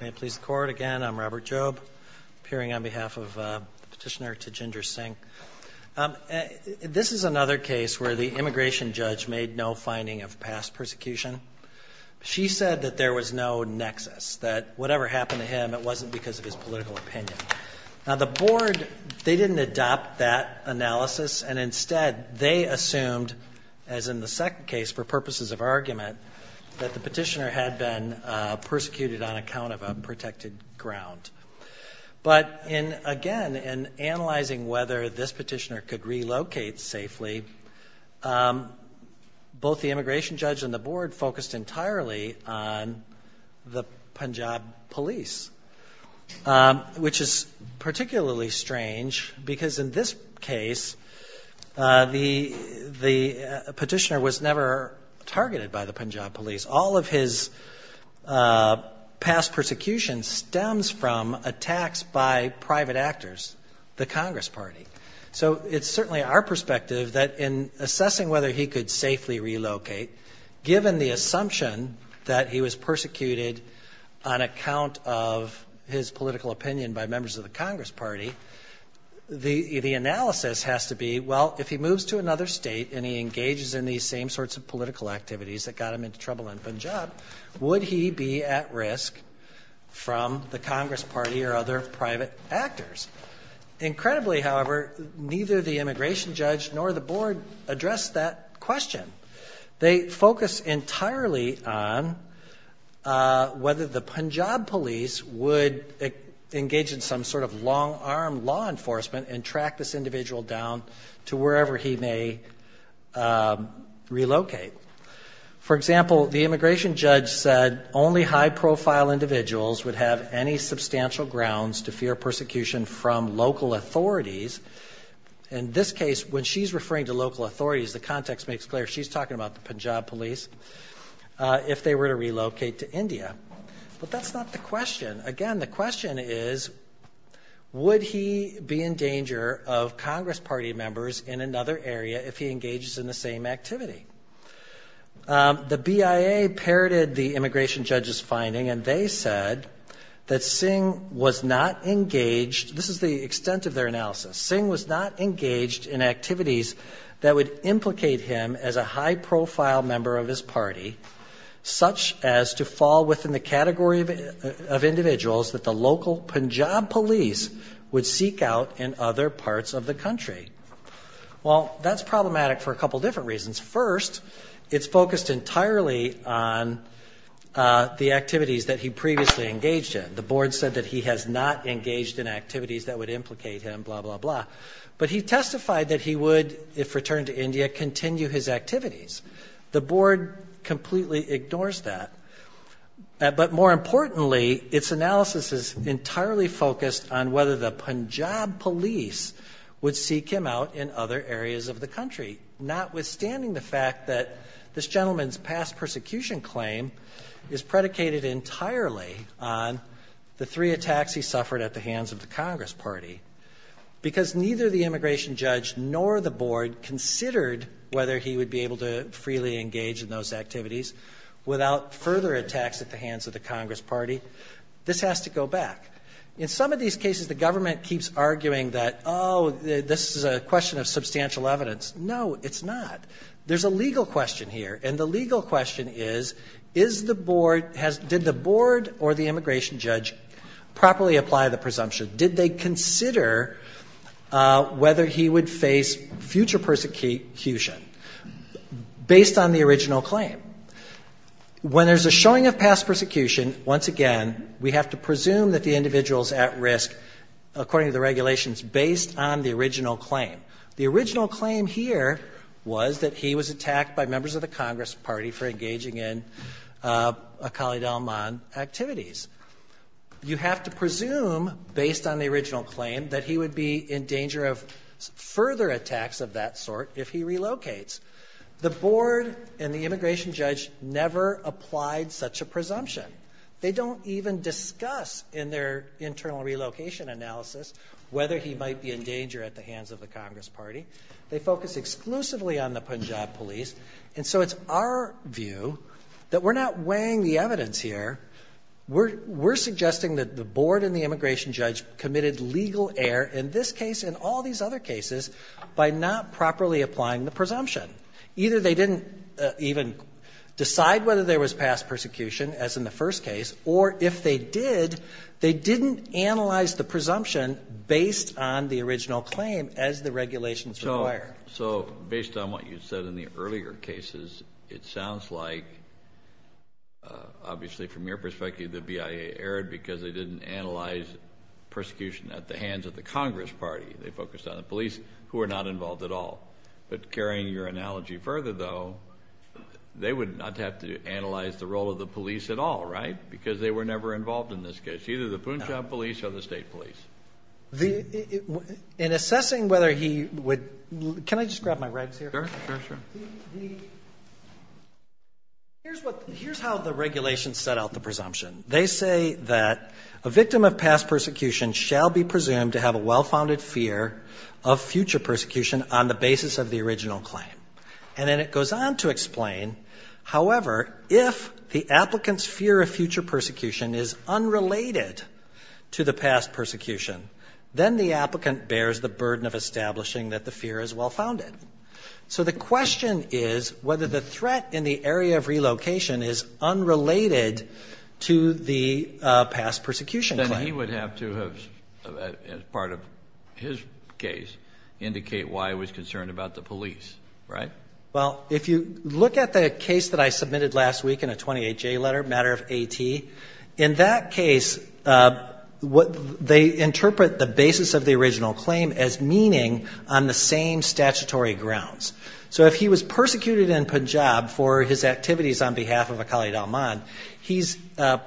Robert Jobe appearing on behalf of the petitioner Tejinder Singh. This is another case where the immigration judge made no finding of past persecution. She said that there was no nexus, that whatever happened to him it wasn't because of his political opinion. Now the board, they didn't adopt that analysis and instead they assumed, as in the second case for purposes of argument, that the petitioner had been persecuted on account of a protected ground. But again, in analyzing whether this petitioner could relocate safely, both the immigration judge and the board focused entirely on the Punjab police, which is particularly strange because in this case the petitioner was never targeted by the Punjab police. All of his past persecution stems from attacks by private actors, the Congress party. So it's certainly our perspective that in assessing whether he could safely relocate, given the assumption that he was persecuted on account of his political opinion by members of the Congress party, the analysis has to be, well, if he moves to another state and he engages in these same sorts of political activities that got him into trouble in Punjab, would he be at risk from the Congress party or other private actors? Incredibly, however, neither the immigration judge or the board focused entirely on whether the Punjab police would engage in some sort of long-arm law enforcement and track this individual down to wherever he may relocate. For example, the immigration judge said only high-profile individuals would have any substantial grounds to fear persecution from local authorities. In this case, when she's referring to local authorities, she's talking about if they were to relocate to India. But that's not the question. Again, the question is, would he be in danger of Congress party members in another area if he engages in the same activity? The BIA parroted the immigration judge's finding and they said that Singh was not engaged, this is the extent of their analysis, Singh was not engaged in activities that would implicate him as a high-profile member of his party, such as to fall within the category of individuals that the local Punjab police would seek out in other parts of the country. Well, that's problematic for a couple different reasons. First, it's focused entirely on the activities that he previously engaged in. The board said that he has not engaged in activities that would implicate him, blah, blah, blah. But he testified that he would, if returned to India, engage in activities that would implicate him in other areas of the country. The board completely ignores that. But more importantly, its analysis is entirely focused on whether the Punjab police would seek him out in other areas of the country, notwithstanding the fact that this gentleman's past persecution claim is predicated entirely on the three attacks he suffered at the hands of the Congress party, because neither the immigration judge nor the board considered whether he would be able to freely engage in those activities without further attacks at the hands of the Congress party. This has to go back. In some of these cases, the government keeps arguing that, oh, this is a question of substantial evidence. No, it's not. There's a legal question here, and the legal question is, is the board, did the board or the immigration judge properly apply the presumption? Did they consider whether he would face future persecution based on the original claim? When there's a showing of past persecution, once again, we have to presume that the individual is at risk, according to the regulations, based on the original claim. The original claim here was that he was attacked by members of the Congress party for engaging in Akali Dalman activities. You have to presume, based on the original claim, that he would be in danger of further attacks of that sort if he relocates. The board and the immigration judge never applied such a presumption. They don't even discuss in their internal relocation analysis whether he might be in danger at the hands of the Congress party. They focus exclusively on the Punjab police, and so it's our view that we're not weighing the case here. We're suggesting that the board and the immigration judge committed legal error in this case and all these other cases by not properly applying the presumption. Either they didn't even decide whether there was past persecution, as in the first case, or if they did, they didn't analyze the presumption based on the original claim as the regulations require. So, based on what you said in the earlier cases, it sounds like, obviously, from your perspective, the BIA erred because they didn't analyze persecution at the hands of the Congress party. They focused on the police, who were not involved at all. But carrying your analogy further, though, they would not have to analyze the role of the police at all, right? Because they were never involved in this case, either the Punjab police or the state police. In assessing whether he would – can I just grab my rags here? The – here's what – here's how the regulations set out the presumption. They say that a victim of past persecution shall be presumed to have a well-founded fear of future persecution on the basis of the original claim. And then it goes on to explain, however, if the applicant's fear of future persecution is unrelated to the past persecution, then the applicant bears the burden of establishing that the fear is well-founded. So the question is whether the threat in the area of relocation is unrelated to the past persecution claim. Then he would have to have, as part of his case, indicate why he was concerned about the police, right? Well, if you look at the case that I submitted last week in a 28-J letter, matter of AT, in that case, they interpret the basis of the original claim as meaning on the same statutory grounds. So if he was persecuted in Punjab for his activities on behalf of a Khalid al-Man, he's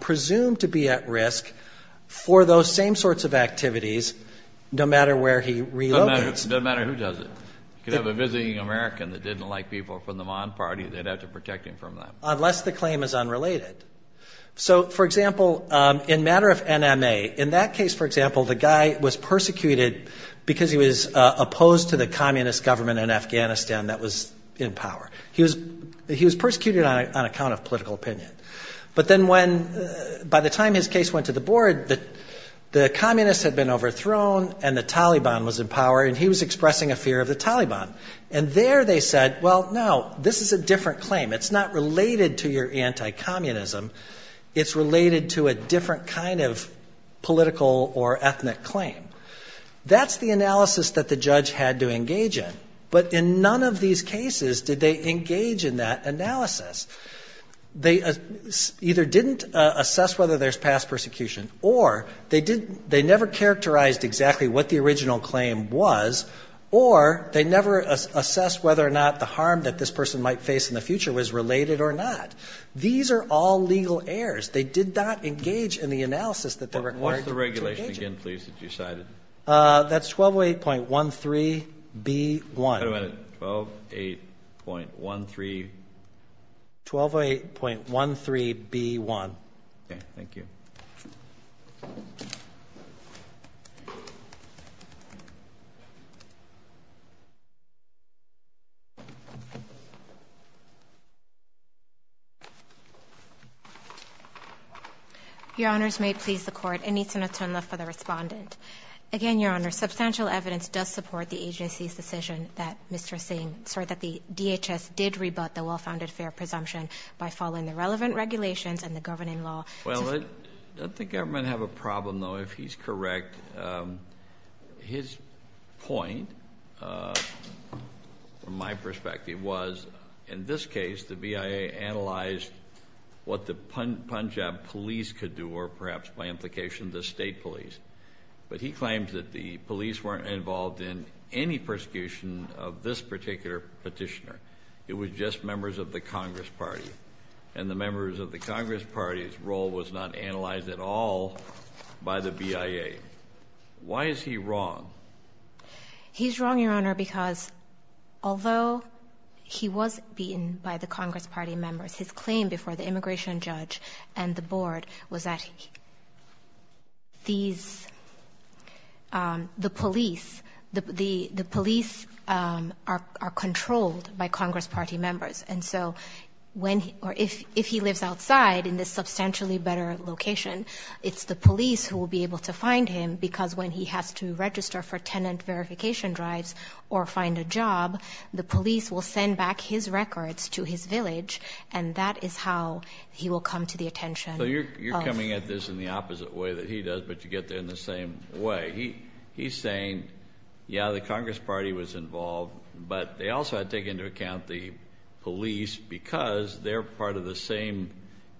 presumed to be at risk for those same sorts of activities, no matter where he relocates. It doesn't matter who does it. You could have a visiting American that didn't like people from the Man party. They'd have to protect him from them. Unless the claim is unrelated. So, for example, in matter of NMA, in that case, for example, the guy was persecuted because he was opposed to the communist government in Afghanistan that was in power. He was persecuted on account of political opinion. But then when, by the time his case went to the board, the communists had been overthrown and the Taliban was in power, and he was expressing a fear of the Taliban. And there they said, well, no, this is a different claim. It's not related to your anti-communism. It's related to a different kind of political or ethnic claim. That's the analysis that the judge had to engage in. But in none of these cases did they engage in that analysis. They either didn't assess whether there's past persecution, or they never characterized exactly what the original claim was, or they never assessed whether or not the harm that this person might face in the future was related or not. These are all legal errors. They did not engage in the analysis that they were required to engage in. What's the regulation again, please, that you cited? That's 1208.13B1. 1208.13B1. Thank you. Your Honors, may it please the Court, Anita Natunla for the respondent. Again, Your Honor, substantial evidence does support the agency's decision that Mr. Singh, sorry, that the DHS did rebut the well-founded fair presumption by following the relevant regulations and the governing law. Well, does the government have a problem, though, if he's correct? His point, from my perspective, was, in this case, the BIA analyzed what the Punjab police could do, or perhaps, by implication, the state police. But he claims that the police weren't involved in any persecution of this particular petitioner. It was just members of the Congress Party. And the members of the Congress Party's role was not analyzed at all by the BIA. Why is he wrong? He's wrong, Your Honor, because although he was beaten by the Congress Party members, his claim before the immigration judge and the board was that these, the police, the police are controlled by Congress Party members. And so when, or if he lives outside in this substantially better location, it's the police who will be able to find him, because when he has to register for tenant verification drives or find a job, the police will send back his records to his village, and that is how he will come to the attention of. So you're coming at this in the opposite way that he does, but you get there in the same way. He's saying, yeah, the Congress Party was involved, but they also had to take into account the police because they're part of the same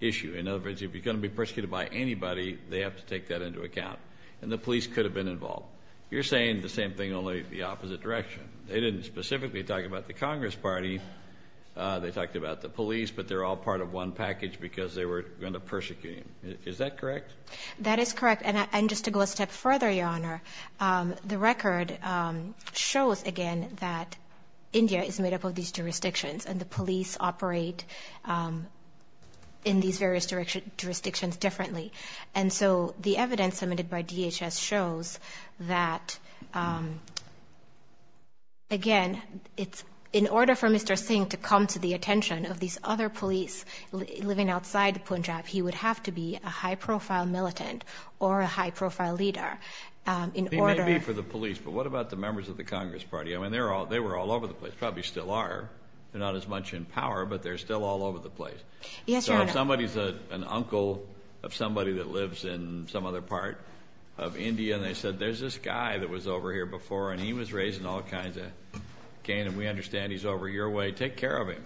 issue. In other words, if you're going to be persecuted by anybody, they have to take that into account. And the police could have been involved. You're saying the same thing, only the opposite direction. They didn't specifically talk about the Congress Party. They talked about the police, but they're all part of one package because they were going to persecute him. Is that correct? That is correct. And just to go a step further, Your Honor, the record shows again that India is made up of these jurisdictions, and the police operate in these various jurisdictions differently. And so the evidence submitted by DHS shows that, again, in order for Mr. Singh to come to the attention of these other police living outside Punjab, he would have to be a high-profile militant or a high-profile leader. He may be for the police, but what about the members of the Congress Party? I mean, they were all over the place, probably still are. They're not as much in power, but they're still all over the place. So if somebody's an uncle of somebody that lives in some other part of India, and they said, there's this guy that was over here before, and he was raised in all kinds of gain, and we understand he's over your way, take care of him.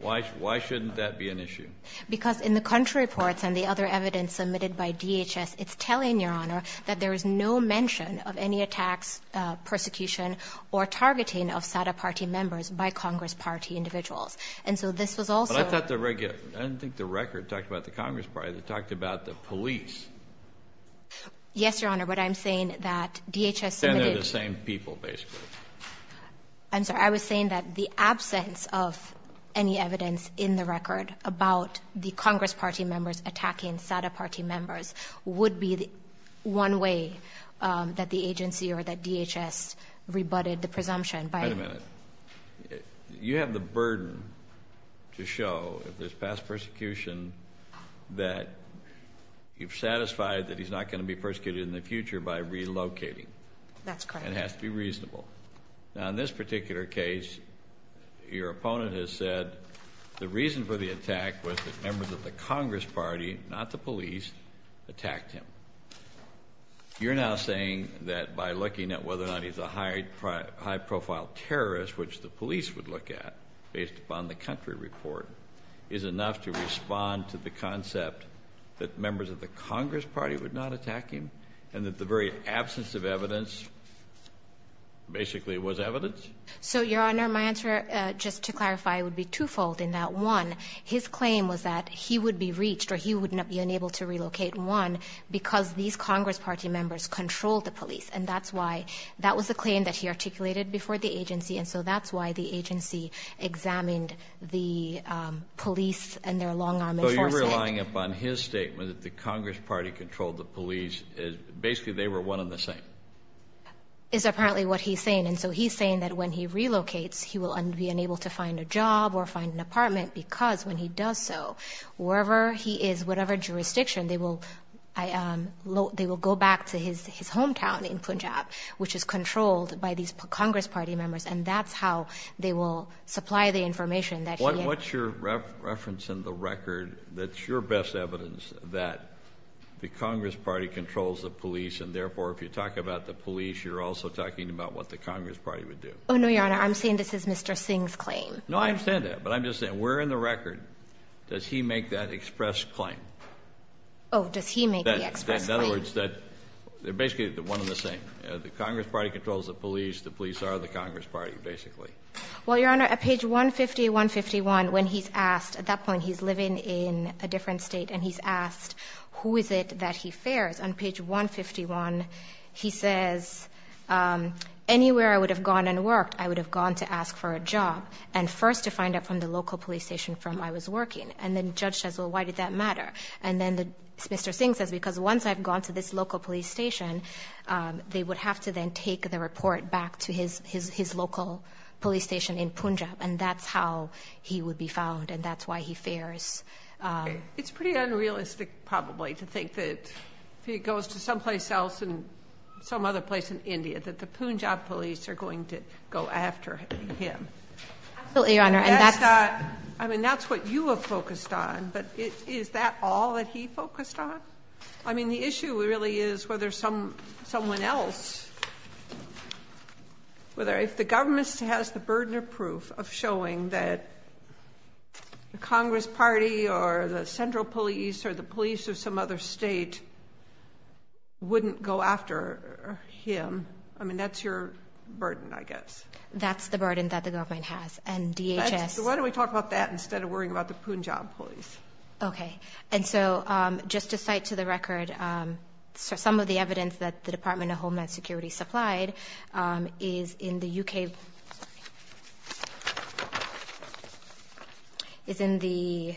Why shouldn't that be an issue? Because in the country reports and the other evidence submitted by DHS, it's telling, Your Honor, that there is no mention of any attacks, persecution, or targeting of SADA party members by Congress Party individuals. And so this was also — But I thought the — I didn't think the record talked about the Congress Party. It talked about the police. Yes, Your Honor, but I'm saying that DHS submitted — And they're the same people, basically. I'm sorry. I was saying that the absence of any evidence in the record about the Congress Party members attacking SADA Party members would be one way that the agency or that DHS rebutted the presumption by — Wait a minute. You have the burden to show, if there's past persecution, that you've satisfied that he's not going to be persecuted in the future by relocating. That's correct. And it has to be reasonable. Now, in this particular case, your opponent has said the reason for the attack was that members of the Congress Party, not the police, attacked him. You're now saying that by looking at whether or not he's a high-profile terrorist, which the police would look at based upon the country report, is enough to respond to the concept that members of the Congress Party would not attack him and that the very absence of evidence basically was evidence? So, Your Honor, my answer, just to clarify, would be twofold in that, one, his claim was that he would be reached or he would not be unable to relocate, and one, because these Congress Party members controlled the police. And that's why — that was the claim that he articulated before the agency, and so that's why the agency examined the police and their long-arm enforcement. So you're relying upon his statement that the Congress Party controlled the police. Basically, they were one and the same. Is apparently what he's saying. And so he's saying that when he relocates, he will be unable to find a job or find an apartment because when he does so, wherever he is, whatever jurisdiction, they will go back to his hometown in Punjab, which is controlled by these Congress Party members, and that's how they will supply the information that he has. What's your reference in the record that's your best evidence that the Congress Party controls the police, and therefore if you talk about the police, you're also talking about what the Congress Party would do? Oh, no, Your Honor, I'm saying this is Mr. Singh's claim. No, I understand that, but I'm just saying, where in the record does he make that express claim? Oh, does he make the express claim? In other words, they're basically one and the same. The Congress Party controls the police. The police are the Congress Party, basically. Well, Your Honor, at page 150, 151, when he's asked, at that point he's living in a different state, and he's asked who is it that he fears. On page 151, he says, anywhere I would have gone and worked, I would have gone to ask for a job. And first to find out from the local police station from where I was working. And then the judge says, well, why did that matter? And then Mr. Singh says, because once I've gone to this local police station, they would have to then take the report back to his local police station in Punjab, and that's how he would be found, and that's why he fears. It's pretty unrealistic, probably, to think that if he goes to someplace else, some other place in India, that the Punjab police are going to go after him. Absolutely, Your Honor. I mean, that's what you have focused on, but is that all that he focused on? I mean, the issue really is whether someone else, if the government has the burden of proof of showing that the Congress Party or the central police or the police of some other state wouldn't go after him. I mean, that's your burden, I guess. That's the burden that the government has, and DHS. Why don't we talk about that instead of worrying about the Punjab police? Okay. And so just to cite to the record some of the evidence that the Department of Homeland Security supplied is in the U.K. Sorry. It's in the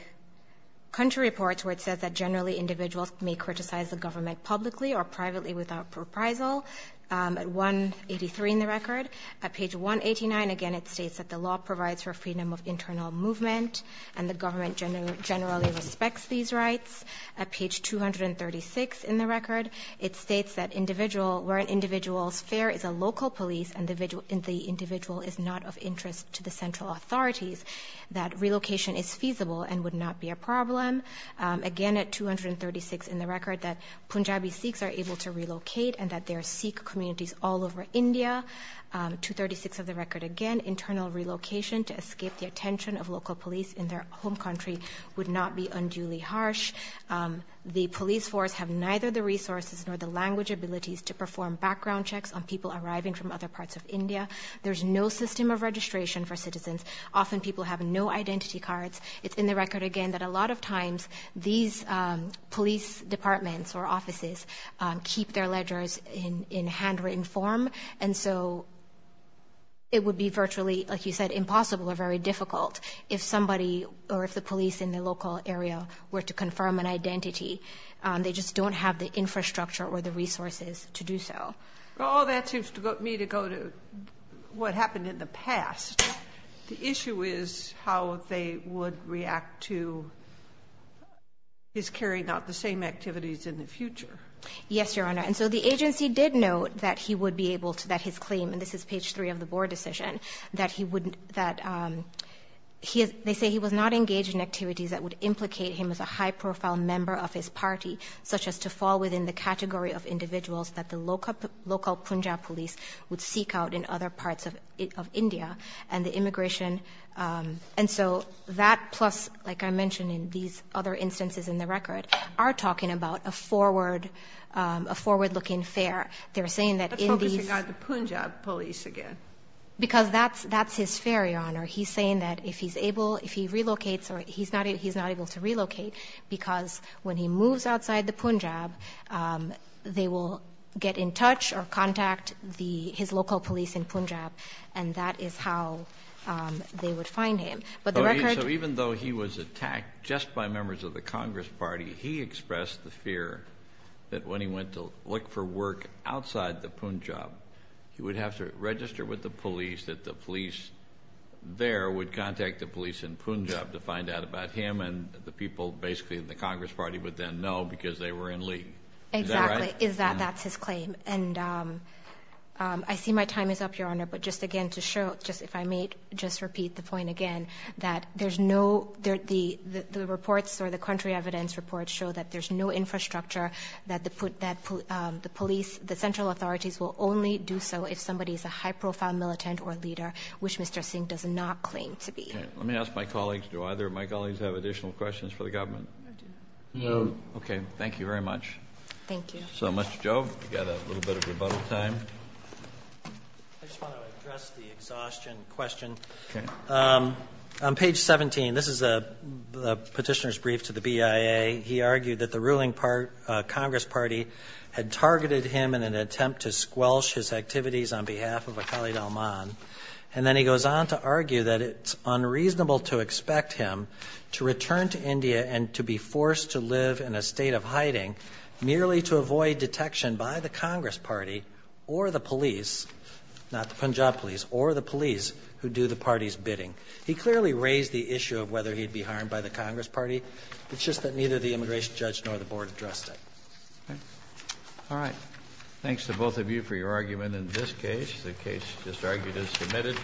country reports where it says that generally individuals may criticize the government publicly or privately without reprisal at 183 in the record. At page 189, again, it states that the law provides for freedom of internal movement and the government generally respects these rights. At page 236 in the record, it states that where an individual's fear is a local police and the individual is not of interest to the central authorities, that relocation is feasible and would not be a problem. Again, at 236 in the record, that Punjabi Sikhs are able to relocate and that there are Sikh communities all over India. 236 of the record, again, internal relocation to escape the attention of local police in their home country would not be unduly harsh. The police force have neither the resources nor the language abilities to perform background checks on people arriving from other parts of India. There's no system of registration for citizens. Often people have no identity cards. It's in the record, again, that a lot of times these police departments or offices keep their ledgers in handwritten form. And so it would be virtually, like you said, impossible or very difficult if somebody or if the police in the local area were to confirm an identity. They just don't have the infrastructure or the resources to do so. Well, that seems to me to go to what happened in the past. The issue is how they would react to his carrying out the same activities in the future. Yes, Your Honor. And so the agency did note that he would be able to, that his claim, and this is page three of the board decision, that he would, that they say he was not engaged in activities that would implicate him as a high-profile member of his party, such as to fall within the category of individuals that the local Punjab police would seek out in other parts of India and the immigration. And so that plus, like I mentioned in these other instances in the record, are talking about a forward-looking fare. They're saying that in these — Let's focus on the Punjab police again. Because that's his fare, Your Honor. He's saying that if he's able, if he relocates or he's not able to relocate because when he moves outside the Punjab, they will get in touch or contact his local police in Punjab, and that is how they would find him. But the record — When asked by members of the Congress party, he expressed the fear that when he went to look for work outside the Punjab, he would have to register with the police, that the police there would contact the police in Punjab to find out about him, and the people basically in the Congress party would then know because they were in league. Is that right? Exactly. That's his claim. I see my time is up, Your Honor, but just again to show, if I may just repeat the point again, that there's no — the reports or the country evidence reports show that there's no infrastructure, that the police, the central authorities will only do so if somebody is a high-profile militant or leader, which Mr. Singh does not claim to be. Let me ask my colleagues. Do either of my colleagues have additional questions for the government? No. Okay. Thank you very much. Thank you. Thank you so much, Joe. We've got a little bit of rebuttal time. I just want to address the exhaustion question. Okay. On page 17, this is a petitioner's brief to the BIA. He argued that the ruling Congress party had targeted him in an attempt to squelch his activities on behalf of a Khalid al-Mann, and then he goes on to argue that it's unreasonable to expect him to return to India and to be forced to live in a state of hiding merely to avoid detection by the Congress party or the police — not the Punjab police — or the police who do the party's bidding. He clearly raised the issue of whether he'd be harmed by the Congress party. It's just that neither the immigration judge nor the board addressed it. Okay. All right. Thanks to both of you for your argument in this case. The case just argued is submitted.